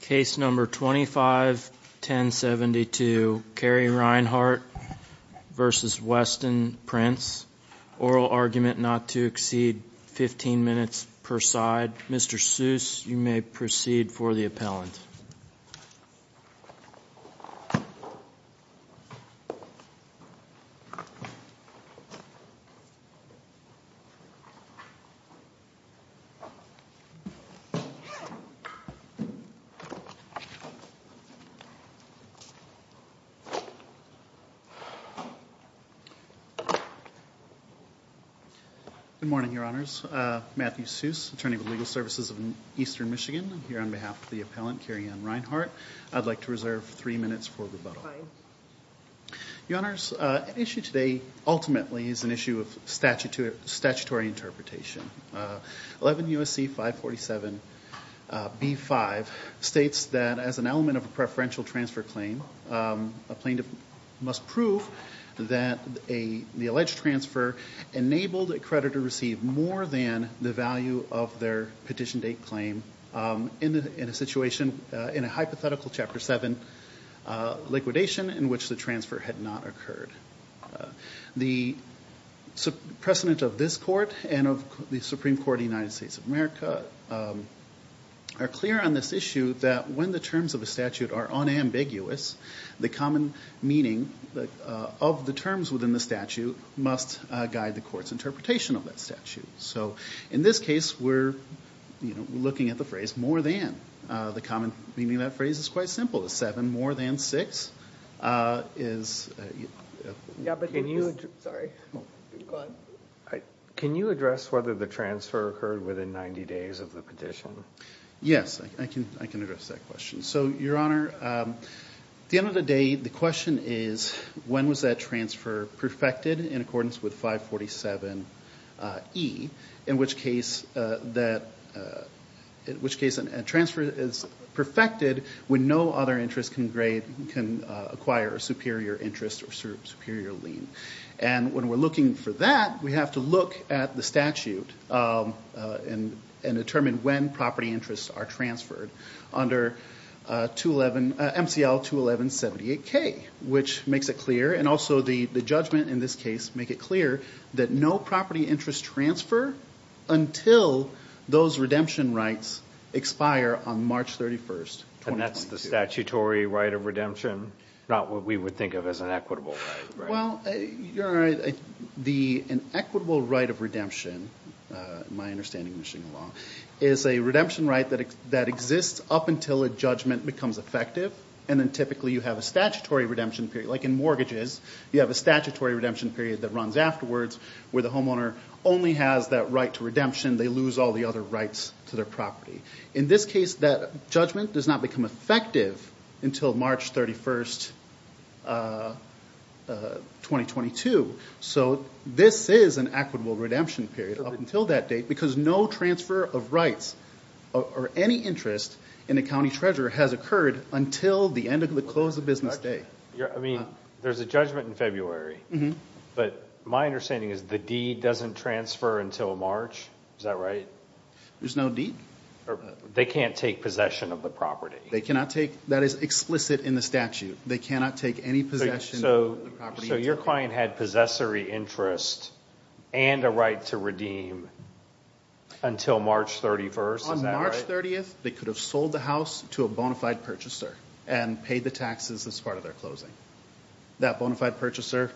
Case number 25-1072, Cary Reinhardt v. Weston Prince. Oral argument not to exceed 15 minutes per side. Mr. Seuss, you may proceed for the appellant. Good morning, Your Honors. Matthew Seuss, Attorney with Legal Services of Eastern Michigan, here on behalf of the appellant, Cary Ann Reinhardt. I'd like to reserve three minutes for rebuttal. Your Honors, the issue today ultimately is an issue of statutory interpretation. 11 U.S.C. 547 B-5 states that as an element of a preferential transfer claim, a plaintiff must prove that the alleged transfer enabled a creditor to receive more than the value of their petition date claim in a hypothetical Chapter 7 liquidation in which the transfer had not occurred. The precedent of this Court and of the Supreme Court of the United States of America are clear on this issue that when the terms of a statute are unambiguous, the common meaning of the terms within the statute must guide the Court's interpretation of that statute. So in this case, we're looking at the phrase, more than. The common meaning of that phrase is quite simple. The 7 more than 6 is... Yeah, but can you... Sorry. Go on. Can you address whether the transfer occurred within 90 days of the petition? Yes, I can address that question. So Your Honor, at the end of the day, the question is, when was that transfer perfected in accordance with 547E, in which case a transfer is perfected when no other interest can acquire a superior interest or superior lien. And when we're looking for that, we have to look at the statute and determine when property interests are transferred under MCL 21178K, which makes it clear. And also the judgment in this case make it clear that no property interest transfer until those redemption rights expire on March 31st, 2022. And that's the statutory right of redemption, not what we would think of as an equitable right. Well, Your Honor, an equitable right of redemption, in my understanding of Michigan law, is a redemption right that exists up until a judgment becomes effective, and then typically you have a statutory redemption period, like in mortgages, you have a statutory redemption period that runs afterwards, where the homeowner only has that right to redemption, they lose all the other rights to their property. In this case, that judgment does not become effective until March 31st, 2022. So this is an equitable redemption period up until that date, because no transfer of rights or any interest in a county treasurer has occurred until the end of the close of business day. I mean, there's a judgment in February, but my understanding is the deed doesn't transfer until March, is that right? There's no deed. They can't take possession of the property. They cannot take, that is explicit in the statute. They cannot take any possession of the property. So your client had possessory interest and a right to redeem until March 31st, is that right? On March 30th, they could have sold the house to a bona fide purchaser and paid the taxes as part of their closing. That bona fide purchaser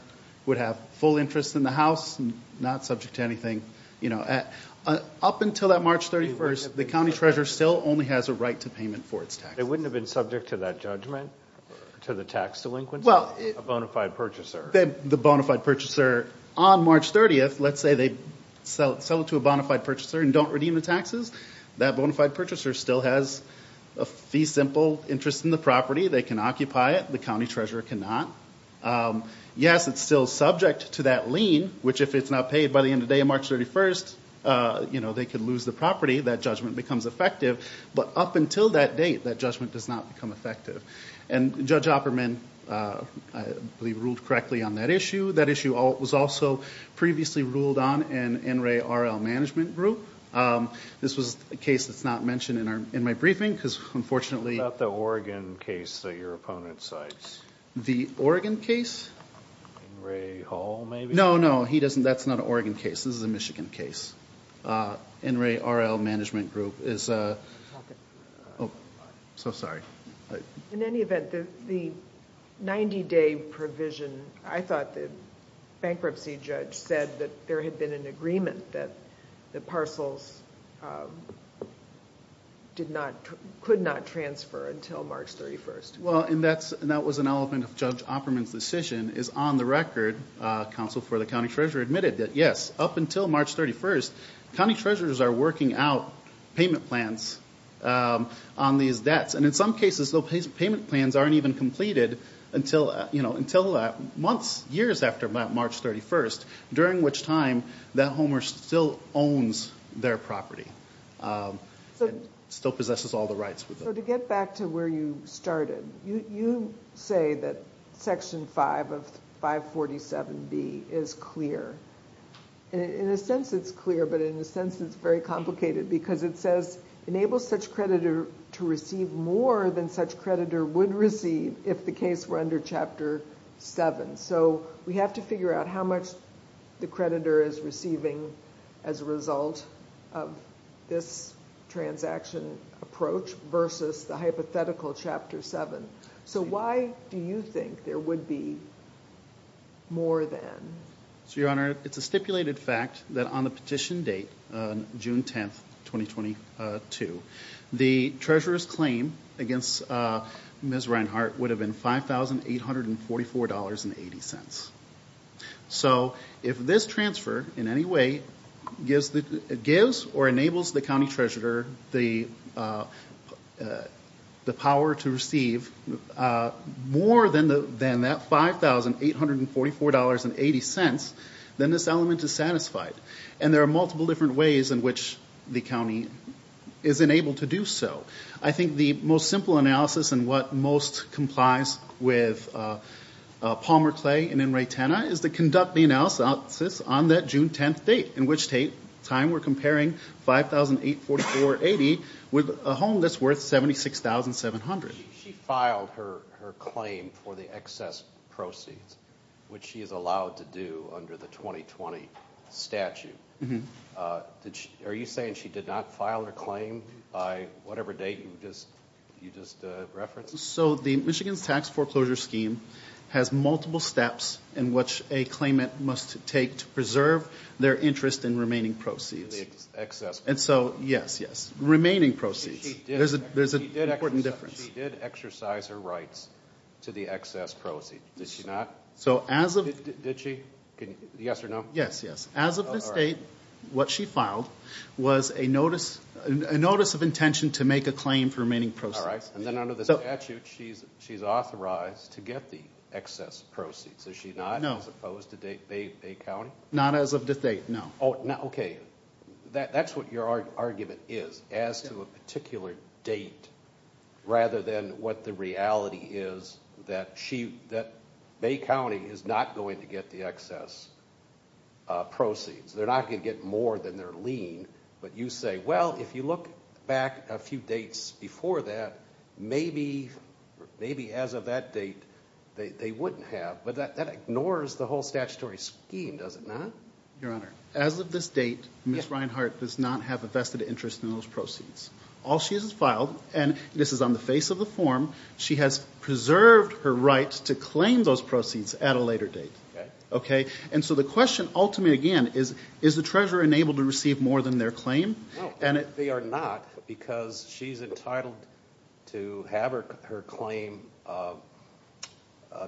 would have full interest in the house, not subject to anything. Up until that March 31st, the county treasurer still only has a right to payment for its taxes. They wouldn't have been subject to that judgment, to the tax delinquency, a bona fide purchaser? The bona fide purchaser on March 30th, let's say they sell it to a bona fide purchaser and don't redeem the taxes, that bona fide purchaser still has a fee simple interest in the property. They can occupy it. The county treasurer cannot. Yes, it's still subject to that lien, which if it's not paid by the end of the day on March 31st, they could lose the property. That judgment becomes effective. But up until that date, that judgment does not become effective. And Judge Opperman, I believe, ruled correctly on that issue. That issue was also previously ruled on in NREA RL Management Group. This was a case that's not mentioned in my briefing, because unfortunately- What about the Oregon case that your opponent cites? The Oregon case? NREA Hall, maybe? No, no. He doesn't. That's not an Oregon case. This is a Michigan case. NREA RL Management Group is a- I'm talking to you. Oh. So sorry. In any event, the 90-day provision, I thought the bankruptcy judge said that there had been an agreement that the parcels could not transfer until March 31st. Well, and that was an element of Judge Opperman's decision, is on the record, counsel for the county treasurers are working out payment plans on these debts. And in some cases, those payment plans aren't even completed until months, years after March 31st, during which time that homeowner still owns their property, still possesses all the rights with them. So to get back to where you started, you say that Section 5 of 547B is clear. In a sense, it's clear, but in a sense, it's very complicated because it says, enable such creditor to receive more than such creditor would receive if the case were under Chapter 7. So we have to figure out how much the creditor is receiving as a result of this transaction approach versus the hypothetical Chapter 7. So why do you think there would be more than? Your Honor, it's a stipulated fact that on the petition date, June 10th, 2022, the treasurer's claim against Ms. Reinhart would have been $5,844.80. So if this transfer in any way gives or enables the county treasurer the power to receive more than that $5,844.80, then this element is satisfied. And there are multiple different ways in which the county is enabled to do so. I think the most simple analysis and what most complies with Palmer Clay and Enrightenna is to conduct the analysis on that June 10th date, in which time we're comparing $5,844.80 with a home that's worth $76,700. She filed her claim for the excess proceeds, which she is allowed to do under the 2020 statute. Are you saying she did not file her claim by whatever date you just referenced? So the Michigan's tax foreclosure scheme has multiple steps in which a claimant must take to preserve their interest in remaining proceeds. And so, yes, yes. Remaining proceeds. There's an important difference. So she did exercise her rights to the excess proceeds, did she not? So as of... Did she? Yes or no? Yes, yes. As of this date, what she filed was a notice of intention to make a claim for remaining proceeds. All right. And then under the statute, she's authorized to get the excess proceeds, is she not? No. As opposed to Bay County? Not as of this date, no. Oh, now, okay. That's what your argument is, as to a particular date, rather than what the reality is that Bay County is not going to get the excess proceeds. They're not going to get more than their lien. But you say, well, if you look back a few dates before that, maybe as of that date, they wouldn't have. But that ignores the whole statutory scheme, does it not? Your Honor, as of this date, Ms. Reinhart does not have a vested interest in those proceeds. All she has filed, and this is on the face of the form, she has preserved her right to claim those proceeds at a later date. And so the question, ultimately, again, is the treasurer enabled to receive more than their claim? No, they are not, because she's entitled to have her claim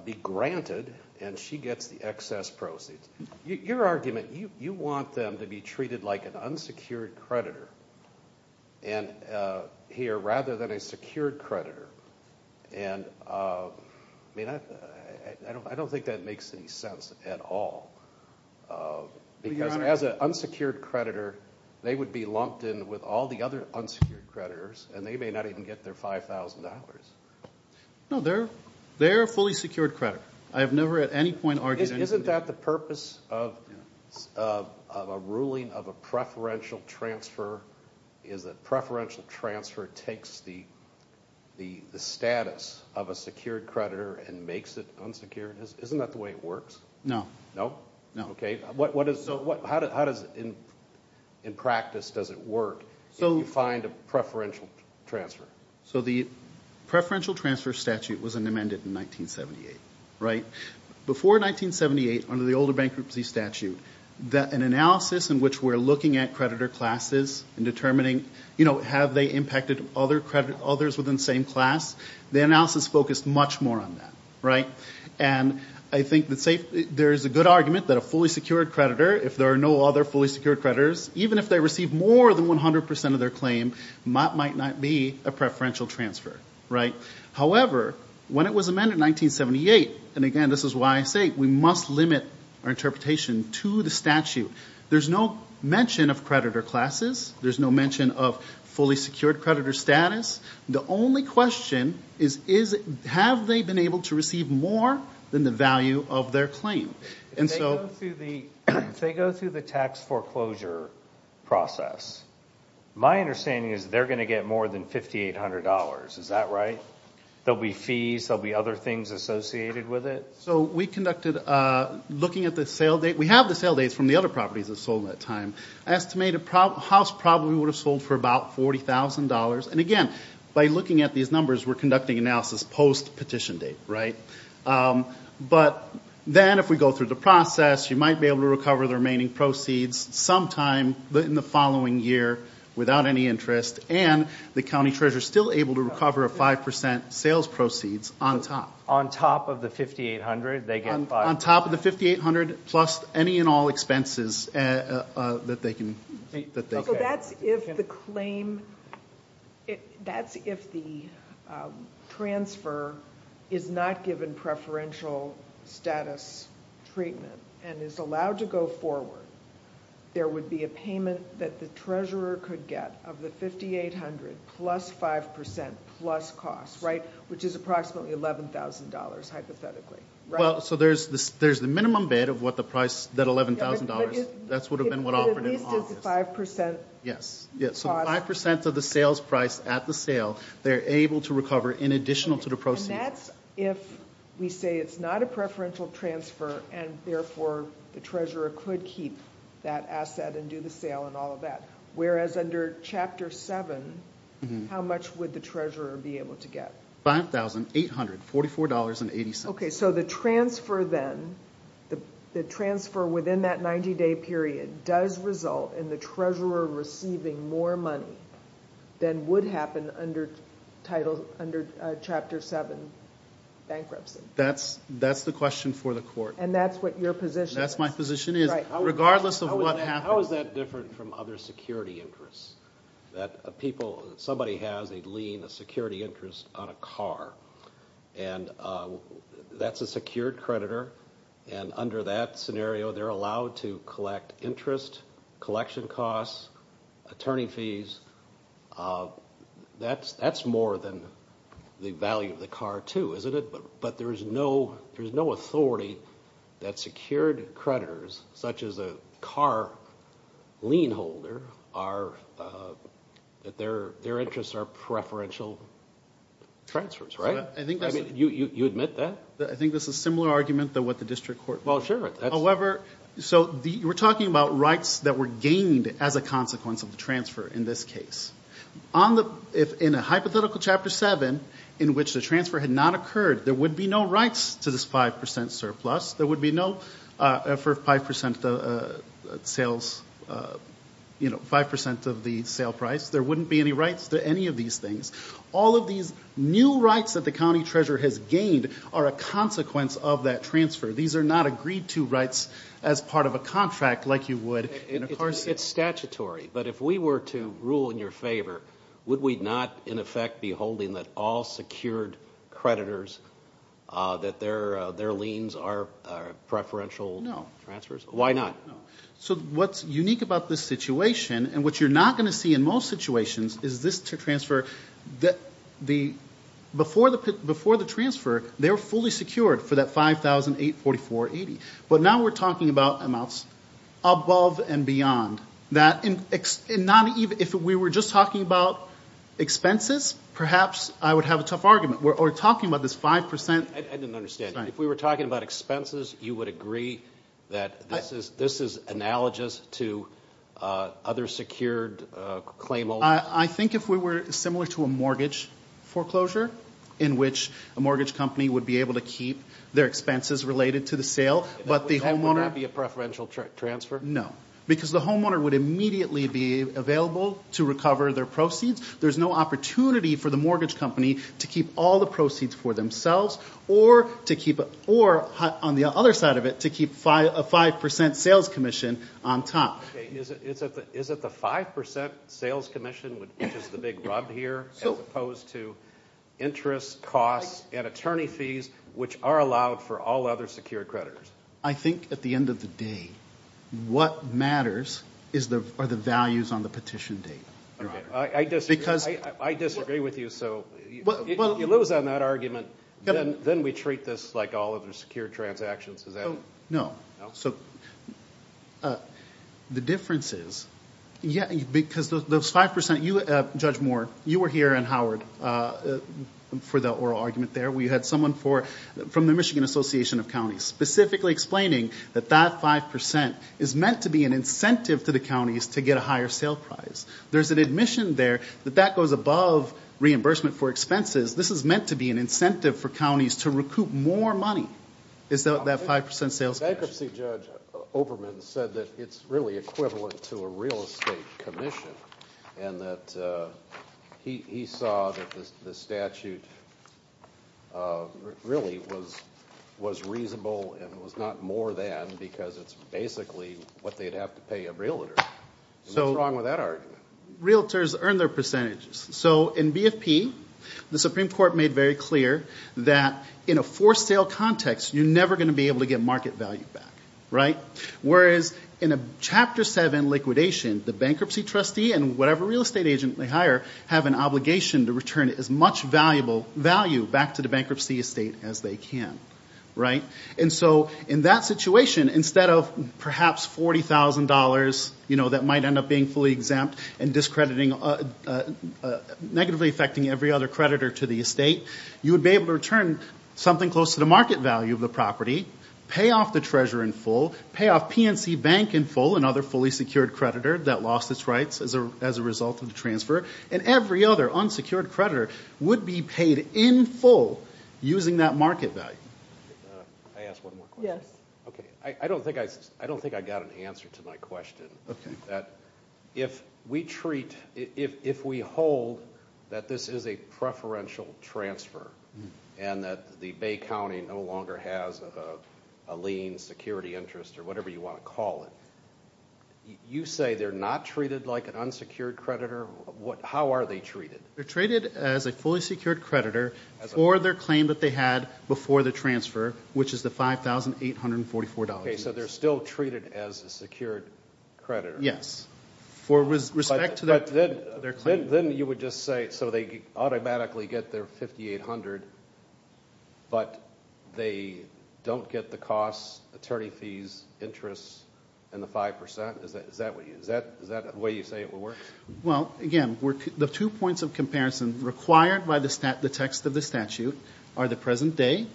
be granted, and she gets the excess proceeds. Your argument, you want them to be treated like an unsecured creditor here, rather than a secured creditor. And I don't think that makes any sense at all, because as an unsecured creditor, they would be lumped in with all the other unsecured creditors, and they may not even get their $5,000. No, they're a fully secured creditor. I have never at any point argued anything... Isn't that the purpose of a ruling of a preferential transfer, is that preferential transfer takes the status of a secured creditor and makes it unsecured? Isn't that the way it works? No. No? No. Okay. How does, in practice, does it work if you find a preferential transfer? So the preferential transfer statute was amended in 1978, right? Before 1978, under the older bankruptcy statute, an analysis in which we're looking at creditor classes and determining, you know, have they impacted others within the same class? The analysis focused much more on that, right? And I think there's a good argument that a fully secured creditor, if there are no other fully secured creditors, even if they receive more than 100% of their claim, might not be a preferential transfer, right? However, when it was amended in 1978, and again, this is why I say we must limit our interpretation to the statute, there's no mention of creditor classes. There's no mention of fully secured creditor status. The only question is, have they been able to receive more than the value of their claim? And so... If they go through the tax foreclosure process, my understanding is they're going to get more than $5,800, is that right? There'll be fees, there'll be other things associated with it? So we conducted a... Looking at the sale date, we have the sale dates from the other properties that sold at that time. I estimate a house probably would have sold for about $40,000, and again, by looking at these numbers, we're conducting analysis post-petition date, right? But then, if we go through the process, you might be able to recover the remaining proceeds some time in the following year without any interest, and the county treasurer's still able to recover a 5% sales proceeds on top. On top of the $5,800, they get... On top of the $5,800, plus any and all expenses that they can... That's if the claim... That's if the transfer is not given preferential status treatment and is allowed to go forward, there would be a payment that the treasurer could get of the $5,800 plus 5% plus costs, right? Which is approximately $11,000, hypothetically, right? So there's the minimum bid of what the price... That $11,000, that's would have been what offered in August. But at least it's 5% cost. Yes, so 5% of the sales price at the sale, they're able to recover in addition to the proceeds. And that's if we say it's not a preferential transfer, and therefore the treasurer could keep that asset and do the sale and all of that, whereas under Chapter 7, how much would the treasurer be able to get? $5,844.80. Okay, so the transfer then, the transfer within that 90-day period does result in the treasurer receiving more money than would happen under Chapter 7 bankruptcy. That's the question for the court. And that's what your position is. That's my position is. Regardless of what happens. How is that different from other security interests? Somebody has a lien, a security interest on a car, and that's a secured creditor, and under that scenario, they're allowed to collect interest, collection costs, attorney fees. That's more than the value of the car too, isn't it? But there's no authority that secured creditors, such as a car lien holder, that their interests are preferential transfers, right? You admit that? I think this is a similar argument to what the district court... Well, sure. However, so we're talking about rights that were gained as a consequence of the transfer in this case. In a hypothetical Chapter 7, in which the transfer had not occurred, there would be no rights to this 5% surplus. There would be no, for 5% of the sales, you know, 5% of the sale price. There wouldn't be any rights to any of these things. All of these new rights that the county treasurer has gained are a consequence of that transfer. These are not agreed to rights as part of a contract, like you would in a car seat. It's statutory, but if we were to rule in your favor, would we not, in effect, be holding that all secured creditors, that their liens are preferential transfers? Why not? So what's unique about this situation, and what you're not going to see in most situations, is this transfer, before the transfer, they were fully secured for that $5,844.80. But now we're talking about amounts above and beyond that. If we were just talking about expenses, perhaps I would have a tough argument. We're talking about this 5%... I didn't understand. If we were talking about expenses, you would agree that this is analogous to other secured claim holders? I think if we were similar to a mortgage foreclosure, in which a mortgage company would be able to keep their expenses related to the sale, but the homeowner... Would that be a preferential transfer? No. Because the homeowner would immediately be available to recover their proceeds. There's no opportunity for the mortgage company to keep all the proceeds for themselves, or on the other side of it, to keep a 5% sales commission on top. Okay. Is it the 5% sales commission which is the big rub here, as opposed to interest costs and attorney fees, which are allowed for all other secured creditors? I think, at the end of the day, what matters are the values on the petition date. I disagree with you, so if you lose on that argument, then we treat this like all other secured transactions, does that... No. So, the difference is, because those 5%, Judge Moore, you were here and Howard for the oral argument there. We had someone from the Michigan Association of Counties, specifically explaining that that 5% is meant to be an incentive to the counties to get a higher sale price. There's an admission there that that goes above reimbursement for expenses. This is meant to be an incentive for counties to recoup more money, is that 5% sales commission. Bankruptcy Judge Oberman said that it's really equivalent to a real estate commission, and that he saw that the statute really was reasonable and was not more than, because it's basically what they'd have to pay a realtor. So what's wrong with that argument? Realtors earn their percentages. So in BFP, the Supreme Court made very clear that in a forced sale context, you're never going to be able to get market value back, whereas in a Chapter 7 liquidation, the bankruptcy trustee and whatever real estate agent they hire have an obligation to return as much value back to the bankruptcy estate as they can. And so in that situation, instead of perhaps $40,000 that might end up being fully exempt and negatively affecting every other creditor to the estate, you would be able to return something close to the market value of the property, pay off the treasurer in full, pay off PNC Bank in full and other fully secured creditor that lost its rights as a result of the transfer, and every other unsecured creditor would be paid in full using that market value. Can I ask one more question? Yes. Okay. I don't think I got an answer to my question, that if we treat, if we hold that this is a preferential transfer and that the Bay County no longer has a lien, security interest or whatever you want to call it, you say they're not treated like an unsecured creditor? How are they treated? They're treated as a fully secured creditor for their claim that they had before the transfer, which is the $5,844. Okay. So they're still treated as a secured creditor? Yes. For respect to their claim. Then you would just say, so they automatically get their $5,800, but they don't get the cost, attorney fees, interest, and the 5%? Is that the way you say it would work? Well, again, the two points of comparison required by the text of the statute are the present day.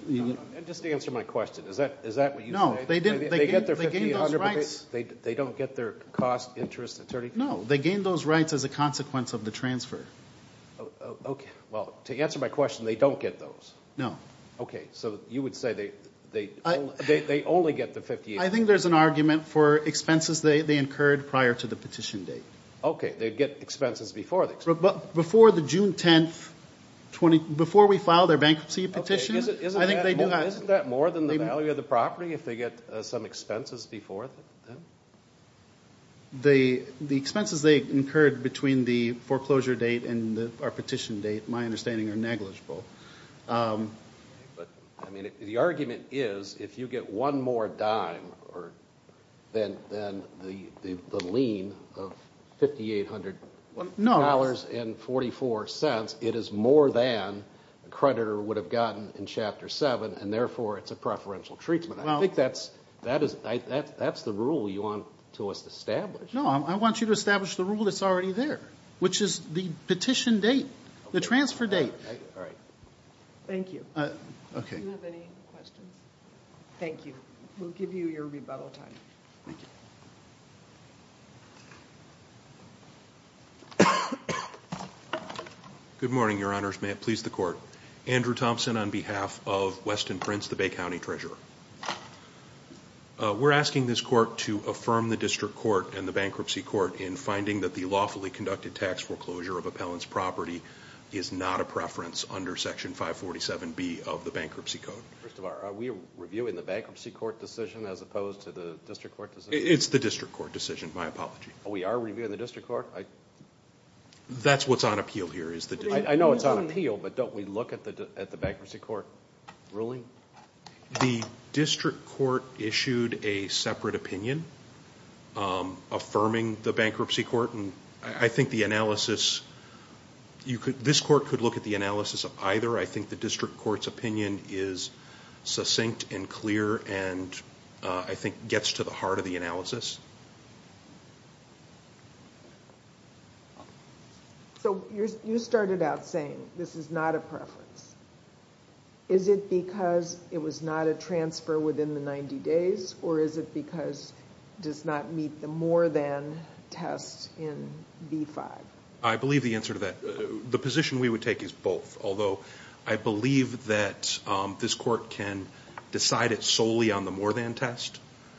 Just to answer my question, is that what you say? No. They get their $5,800, but they don't get their cost, interest, attorney fees? No. They gain those rights as a consequence of the transfer. Okay. Well, to answer my question, they don't get those? No. Okay. So you would say they only get the $5,800? I think there's an argument for expenses they incurred prior to the petition date. Okay. They get expenses before the expenses? Before the June 10th, before we file their bankruptcy petition, I think they do that. Isn't that more than the value of the property if they get some expenses before then? The expenses they incurred between the foreclosure date and our petition date, my understanding, are negligible. But, I mean, the argument is if you get one more dime than the lien of $5,800.44, it is more than a creditor would have gotten in Chapter 7, and therefore it's a preferential treatment. I think that's the rule you want to establish. No. I want you to establish the rule that's already there, which is the petition date, the transfer date. All right. Thank you. Okay. Do you have any questions? Thank you. We'll give you your rebuttal time. Thank you. Good morning, Your Honors. May it please the Court. Andrew Thompson on behalf of Weston Prince, the Bay County Treasurer. We're asking this Court to affirm the District Court and the Bankruptcy Court in finding that the lawfully conducted tax foreclosure of appellant's property is not a preference under Section 547B of the Bankruptcy Code. First of all, are we reviewing the Bankruptcy Court decision as opposed to the District Court decision? It's the District Court decision. My apology. We are reviewing the District Court? That's what's on appeal here. I know it's on appeal, but don't we look at the Bankruptcy Court ruling? The District Court issued a separate opinion affirming the Bankruptcy Court. I think the analysis... This Court could look at the analysis of either. I think the District Court's opinion is succinct and clear and I think gets to the heart of the analysis. You started out saying this is not a preference. Is it because it was not a transfer within the 90 days or is it because it does not meet the more than test in B5? I believe the answer to that. The position we would take is both, although I believe that this Court can decide it solely on the more than test.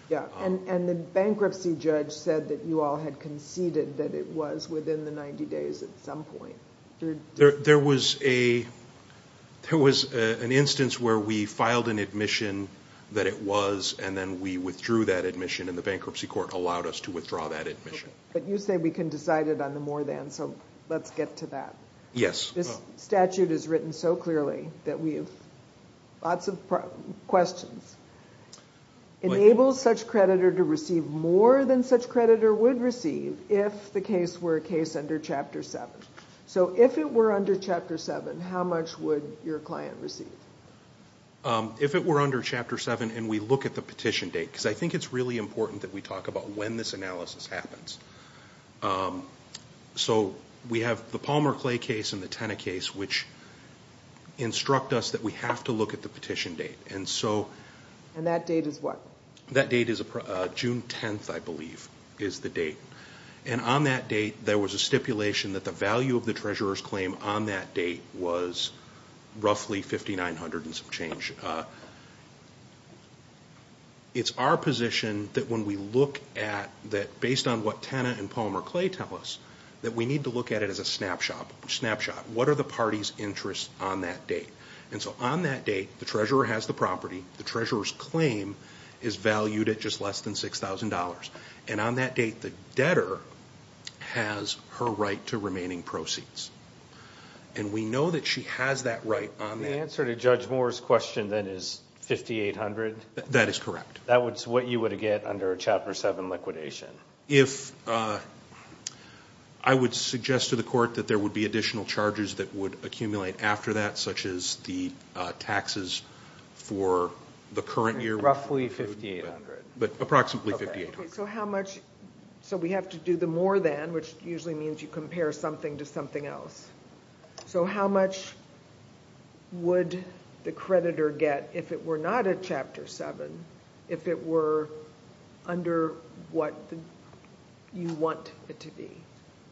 The bankruptcy judge said that you all had conceded that it was within the 90 days at some point. There was an instance where we filed an admission that it was and then we withdrew that admission and the Bankruptcy Court allowed us to withdraw that admission. You say we can decide it on the more than, so let's get to that. Yes. This statute is written so clearly that we have lots of questions. Enable such creditor to receive more than such creditor would receive if the case were a case under Chapter 7. If it were under Chapter 7, how much would your client receive? If it were under Chapter 7 and we look at the petition date, because I think it's really important that we talk about when this analysis happens. We have the Palmer Clay case and the Tenna case which instruct us that we have to look at the petition date. That date is what? That date is June 10th, I believe, is the date. On that date, there was a stipulation that the value of the treasurer's claim on that date was roughly $5,900 and some change. It's our position that when we look at that, based on what Tenna and Palmer Clay tell us, that we need to look at it as a snapshot. What are the party's interests on that date? On that date, the treasurer has the property, the treasurer's claim is valued at just less than $6,000. On that date, the debtor has her right to remaining proceeds. We know that she has that right on that. The answer to Judge Moore's question then is $5,800? That is correct. That's what you would get under a Chapter 7 liquidation? I would suggest to the court that there would be additional charges that would accumulate after that, such as the taxes for the current year. Roughly $5,800. But approximately $5,800. We have to do the more than, which usually means you compare something to something else. So how much would the creditor get if it were not a Chapter 7, if it were under what you want it to be?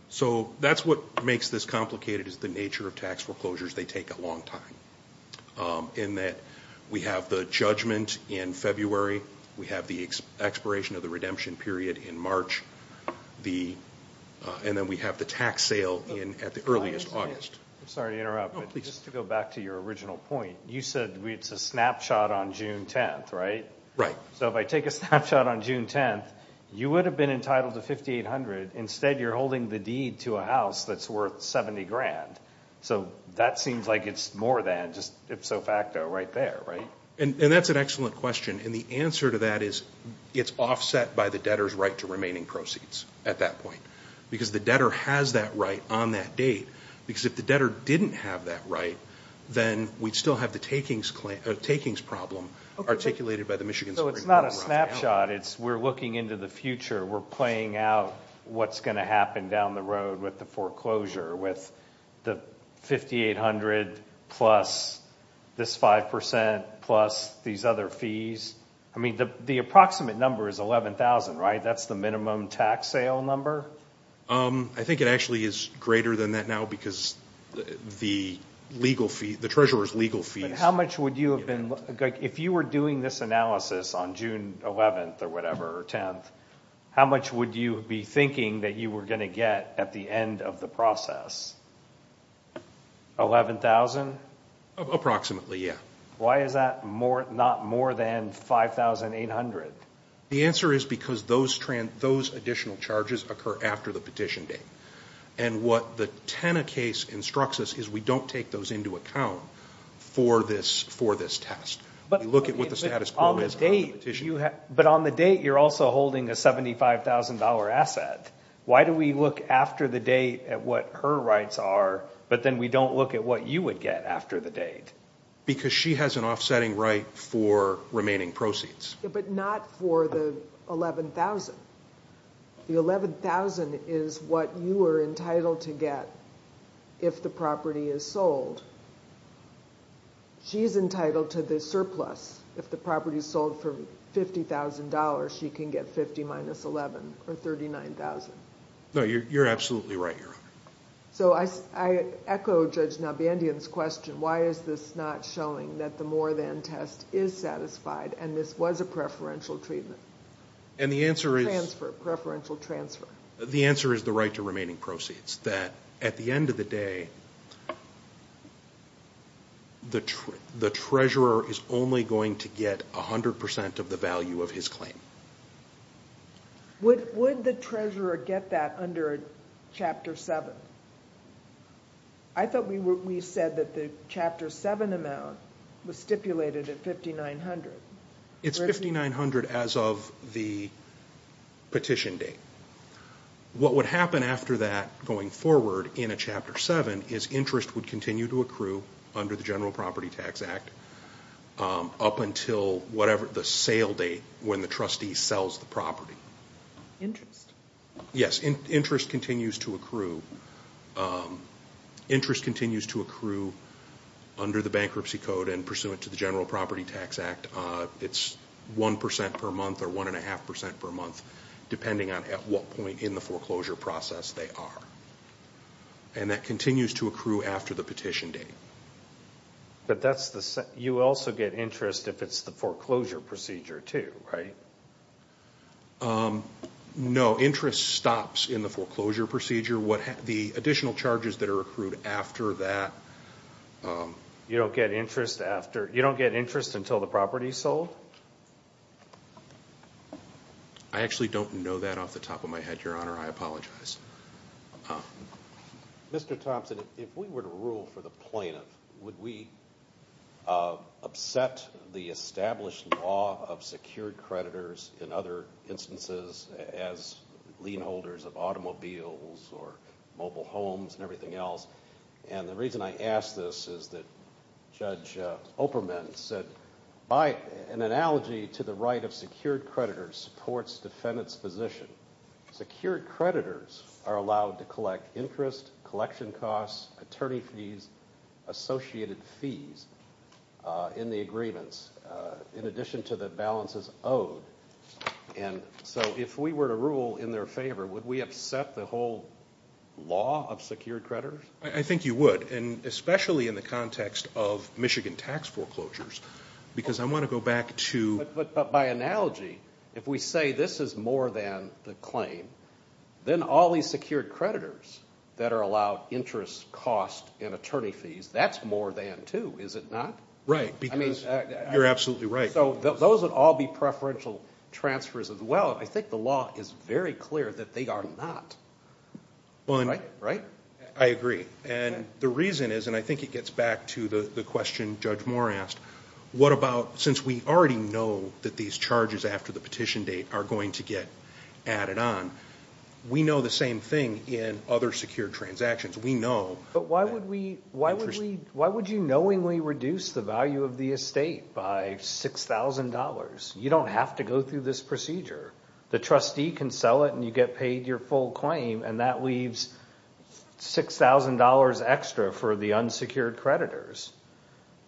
So that's what makes this complicated, is the nature of tax foreclosures. They take a long time. In that we have the judgment in February, we have the expiration of the redemption period in March, and then we have the tax sale at the earliest, August. I'm sorry to interrupt, but just to go back to your original point, you said it's a snapshot on June 10th, right? Right. So if I take a snapshot on June 10th, you would have been entitled to $5,800. Instead you're holding the deed to a house that's worth $70,000. So that seems like it's more than, just ipso facto, right there, right? And that's an excellent question. And the answer to that is it's offset by the debtor's right to remaining proceeds at that point. Because the debtor has that right on that date. Because if the debtor didn't have that right, then we'd still have the takings problem articulated by the Michigan Supreme Court right now. So it's not a snapshot. We're looking into the future. We're playing out what's going to happen down the road with the foreclosure, with the $5,800 plus this 5% plus these other fees. I mean, the approximate number is $11,000, right? That's the minimum tax sale number? I think it actually is greater than that now because the legal fee, the treasurer's legal fees... But how much would you have been... Like, if you were doing this analysis on June 11th or whatever, or 10th, how much would you be thinking that you were going to get at the end of the process? $11,000? Approximately. Yeah. Why is that not more than $5,800? The answer is because those additional charges occur after the petition date. And what the Tena case instructs us is we don't take those into account for this test. But you look at what the status quo is after the petition date. But on the date, you're also holding a $75,000 asset. Why do we look after the date at what her rights are, but then we don't look at what you would get after the date? Because she has an offsetting right for remaining proceeds. But not for the $11,000. The $11,000 is what you are entitled to get if the property is sold. She is entitled to the surplus. If the property is sold for $50,000, she can get $50,000 minus $11,000, or $39,000. No, you're absolutely right, Your Honor. So I echo Judge Nabandian's question, why is this not showing that the more than test is satisfied and this was a preferential treatment? And the answer is... Transfer. Preferential transfer. The answer is the right to remaining proceeds, that at the end of the day, the treasurer is only going to get 100% of the value of his claim. Would the treasurer get that under Chapter 7? I thought we said that the Chapter 7 amount was stipulated at $5,900. It's $5,900 as of the petition date. What would happen after that going forward in a Chapter 7 is interest would continue to accrue under the General Property Tax Act up until whatever the sale date when the trustee sells the property. Interest. Yes, interest continues to accrue. Interest continues to accrue under the Bankruptcy Code and pursuant to the General Property Tax Act, it's 1% per month or 1.5% per month, depending on at what point in the foreclosure process they are. And that continues to accrue after the petition date. You also get interest if it's the foreclosure procedure too, right? No, interest stops in the foreclosure procedure. The additional charges that are accrued after that... You don't get interest until the property is sold? I actually don't know that off the top of my head, Your Honor, I apologize. Mr. Thompson, if we were to rule for the plaintiff, would we upset the established law of secured creditors in other instances as lien holders of automobiles or mobile homes and everything else? And the reason I ask this is that Judge Operman said, by an analogy to the right of secured creditors supports defendant's position. Secured creditors are allowed to collect interest, collection costs, attorney fees, associated fees in the agreements in addition to the balances owed. And so if we were to rule in their favor, would we upset the whole law of secured creditors? I think you would, and especially in the context of Michigan tax foreclosures, because I want to go back to... But by analogy, if we say this is more than the claim, then all these secured creditors that are allowed interest, cost, and attorney fees, that's more than two, is it not? Right. You're absolutely right. So those would all be preferential transfers as well. I think the law is very clear that they are not, right? I agree. And the reason is, and I think it gets back to the question Judge Moore asked, what about since we already know that these charges after the petition date are going to get added on, we know the same thing in other secured transactions. We know... But why would you knowingly reduce the value of the estate by $6,000? You don't have to go through this procedure. The trustee can sell it, and you get paid your full claim, and that leaves $6,000 extra for the unsecured creditors.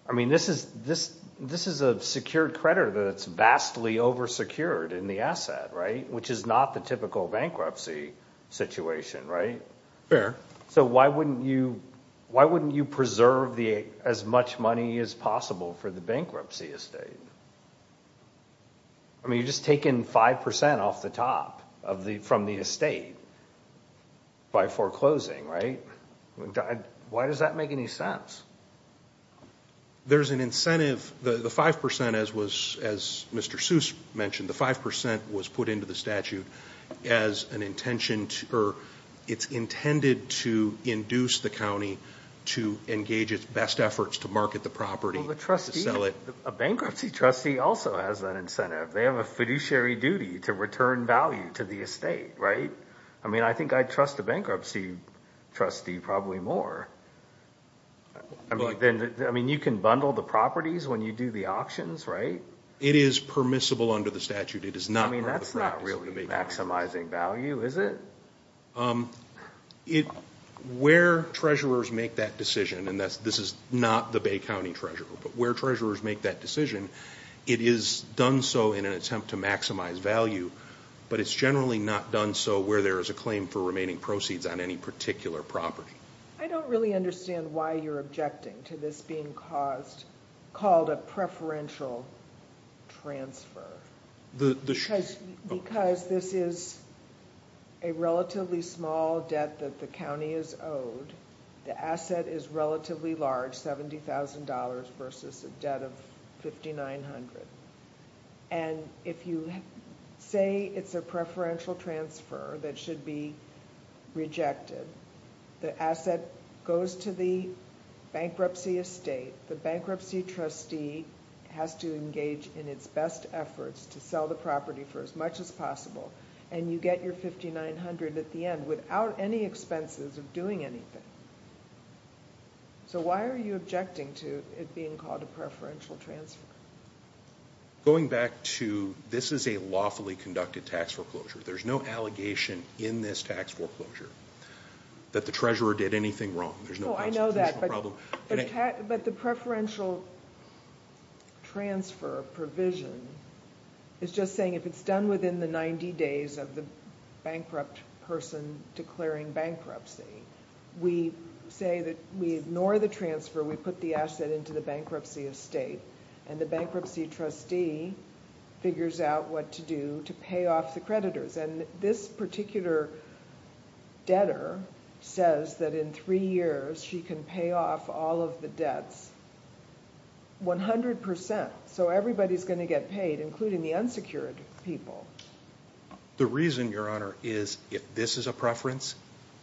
I mean, this is a secured creditor that's vastly oversecured in the asset, right? Which is not the typical bankruptcy situation, right? Fair. So why wouldn't you preserve as much money as possible for the bankruptcy estate? I mean, you're just taking 5% off the top from the estate by foreclosing, right? Why does that make any sense? There's an incentive. The 5%, as Mr. Seuss mentioned, the 5% was put into the statute as an intention, or it's intended to induce the county to engage its best efforts to market the property to sell it. A bankruptcy trustee also has that incentive. They have a fiduciary duty to return value to the estate, right? I mean, I think I'd trust a bankruptcy trustee probably more. I mean, you can bundle the properties when you do the auctions, right? It is permissible under the statute. It is not part of the practice. I mean, that's not really maximizing value, is it? Where treasurers make that decision, and this is not the Bay County treasurer, but where treasurers make that decision, it is done so in an attempt to maximize value, but it's generally not done so where there is a claim for remaining proceeds on any particular property. I don't really understand why you're objecting to this being called a preferential transfer. Because this is a relatively small debt that the county is owed, the asset is relatively large, $70,000 versus a debt of $5,900, and if you say it's a preferential transfer that should be rejected, the asset goes to the bankruptcy estate. The bankruptcy trustee has to engage in its best efforts to sell the property for as much as possible, and you get your $5,900 at the end without any expenses of doing anything. So why are you objecting to it being called a preferential transfer? Going back to this is a lawfully conducted tax foreclosure. There's no allegation in this tax foreclosure that the treasurer did anything wrong. There's no possible principle problem. Oh, I know that, but the preferential transfer provision is just saying if it's done within the 90 days of the bankrupt person declaring bankruptcy, we say that we ignore the transfer, we put the asset into the bankruptcy estate, and the bankruptcy trustee figures out what to do to pay off the creditors. This particular debtor says that in three years she can pay off all of the debts 100%, so everybody's going to get paid, including the unsecured people. The reason, Your Honor, is if this is a preference,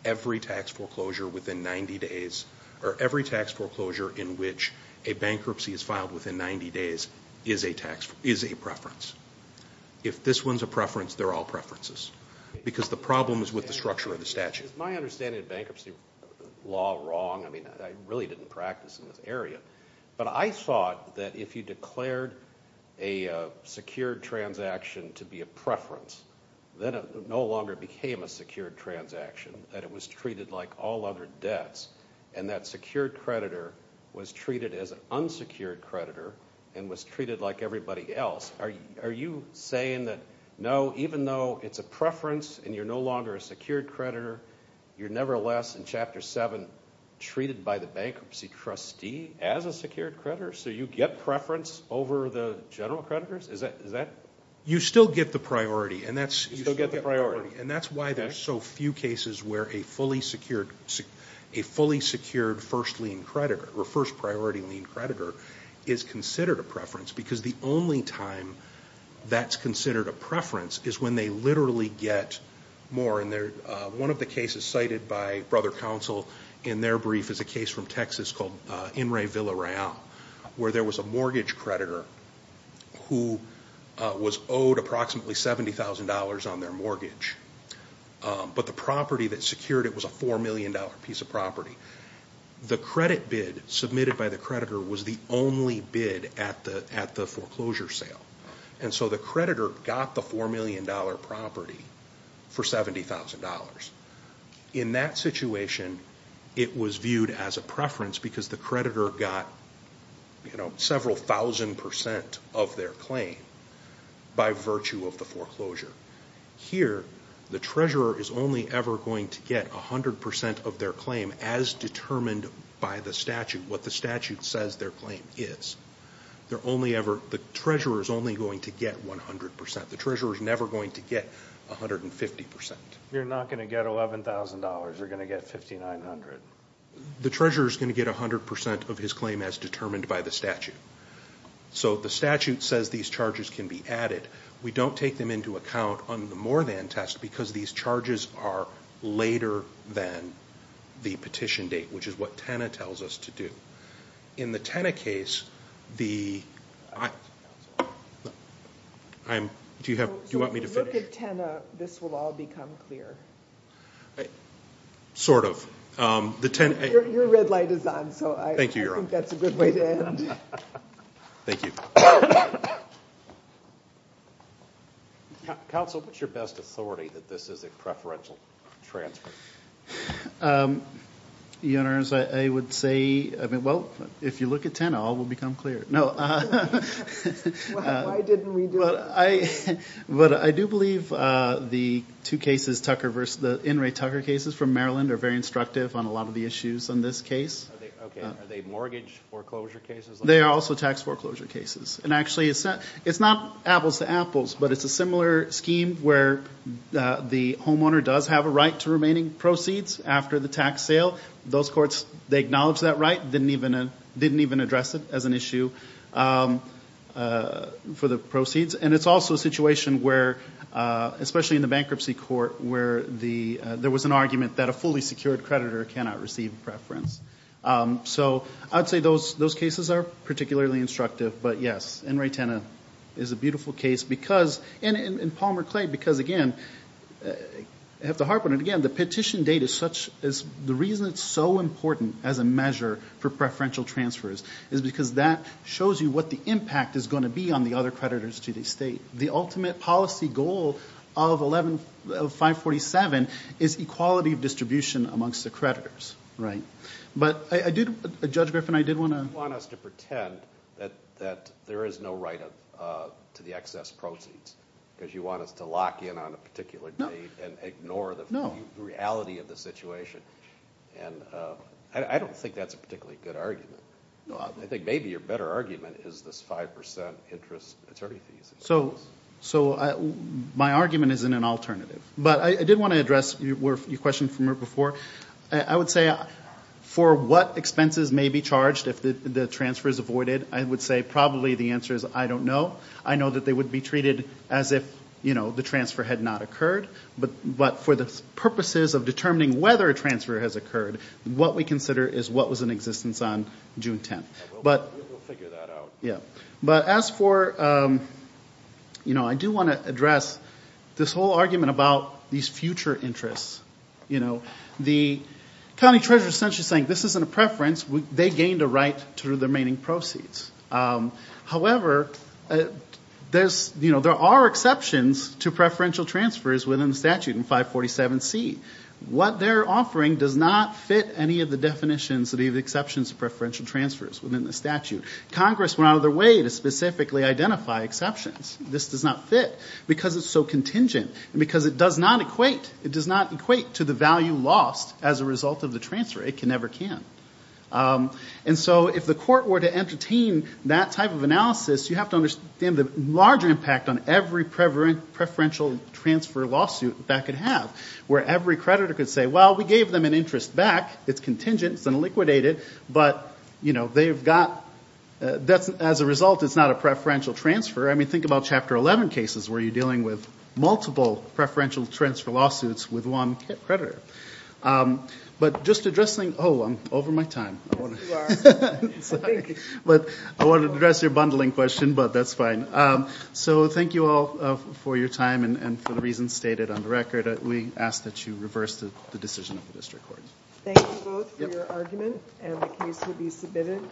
every tax foreclosure within 90 days, or every tax foreclosure in which a bankruptcy is filed within 90 days is a preference. If this one's a preference, they're all preferences, because the problem is with the structure of the statute. Is my understanding of bankruptcy law wrong? I really didn't practice in this area. But I thought that if you declared a secured transaction to be a preference, then it no longer became a secured transaction, that it was treated like all other debts, and that secured creditor was treated as an unsecured creditor, and was treated like everybody else. Are you saying that, no, even though it's a preference and you're no longer a secured creditor, you're nevertheless, in Chapter 7, treated by the bankruptcy trustee as a secured creditor, so you get preference over the general creditors? You still get the priority, and that's why there's so few cases where a fully secured first priority lien creditor is considered a preference, because the only time that's considered a preference is when they literally get more. One of the cases cited by Brother Counsel in their brief is a case from Texas called In Re Vila Real, where there was a mortgage creditor who was owed approximately $70,000 on their mortgage, but the property that secured it was a $4 million piece of property. The credit bid submitted by the creditor was the only bid at the foreclosure sale, and so the creditor got the $4 million property for $70,000. In that situation, it was viewed as a preference because the creditor got several thousand percent of their claim by virtue of the foreclosure. Here, the treasurer is only ever going to get 100 percent of their claim as determined by the statute, what the statute says their claim is. The treasurer is only going to get 100 percent. The treasurer is never going to get 150 percent. You're not going to get $11,000. You're going to get 5,900. The treasurer is going to get 100 percent of his claim as determined by the statute. The statute says these charges can be added. We don't take them into account on the more than test because these charges are later than the petition date, which is what TENA tells us to do. In the TENA case, the... Counselor. Do you want me to finish? If you look at TENA, this will all become clear. Sort of. Your red light is on, so I think that's a good way to end. Thank you, Your Honor. Thank you. Counsel, what's your best authority that this is a preferential transfer? Your Honor, I would say, well, if you look at TENA, all will become clear. Why didn't we do that? I do believe the two cases, the In re Tucker cases from Maryland are very instructive on a lot of the issues on this case. Okay. Are they mortgage foreclosure cases? They are also tax foreclosure cases. Actually, it's not apples to apples, but it's a similar scheme where the homeowner does have a right to remaining proceeds after the tax sale. Those courts, they acknowledge that right, didn't even address it as an issue for the It's also a situation where, especially in the bankruptcy court, where there was an argument that a fully secured creditor cannot receive preference. I'd say those cases are particularly instructive, but yes, In re TENA is a beautiful case because, and in Palmer Clay, because again, I have to harp on it again, the petition date is such, the reason it's so important as a measure for preferential transfers is because that shows you what the impact is going to be on the other creditors to the state. The ultimate policy goal of 547 is equality of distribution amongst the creditors. But I did, Judge Griffin, I did want to- You want us to pretend that there is no right to the excess proceeds because you want us to lock in on a particular date and ignore the reality of the situation. I don't think that's a particularly good argument. I think maybe your better argument is this 5% interest attorney fees. So my argument isn't an alternative, but I did want to address your question from before. I would say for what expenses may be charged if the transfer is avoided, I would say probably the answer is I don't know. I know that they would be treated as if, you know, the transfer had not occurred. But for the purposes of determining whether a transfer has occurred, what we consider is what was in existence on June 10th. But- We'll figure that out. Yeah. But as for, you know, I do want to address this whole argument about these future interests, you know. The county treasurer is essentially saying this isn't a preference. They gained a right to the remaining proceeds. However, there's, you know, there are exceptions to preferential transfers within the statute in 547C. What they're offering does not fit any of the definitions of the exceptions of preferential transfers within the statute. Congress went out of their way to specifically identify exceptions. This does not fit because it's so contingent and because it does not equate to the value lost as a result of the transfer. It never can. And so if the court were to entertain that type of analysis, you have to understand the larger impact on every preferential transfer lawsuit that could have, where every creditor could say, well, we gave them an interest back. It's contingent. It's unliquidated. But, you know, they've got- As a result, it's not a preferential transfer. I mean, think about Chapter 11 cases where you're dealing with multiple preferential transfer lawsuits with one creditor. But just addressing- Oh, I'm over my time. I want to- You are. Sorry. But I wanted to address your bundling question, but that's fine. So thank you all for your time and for the reasons stated on the record. We ask that you reverse the decision of the district court. Thank you both for your argument, and the case will be submitted.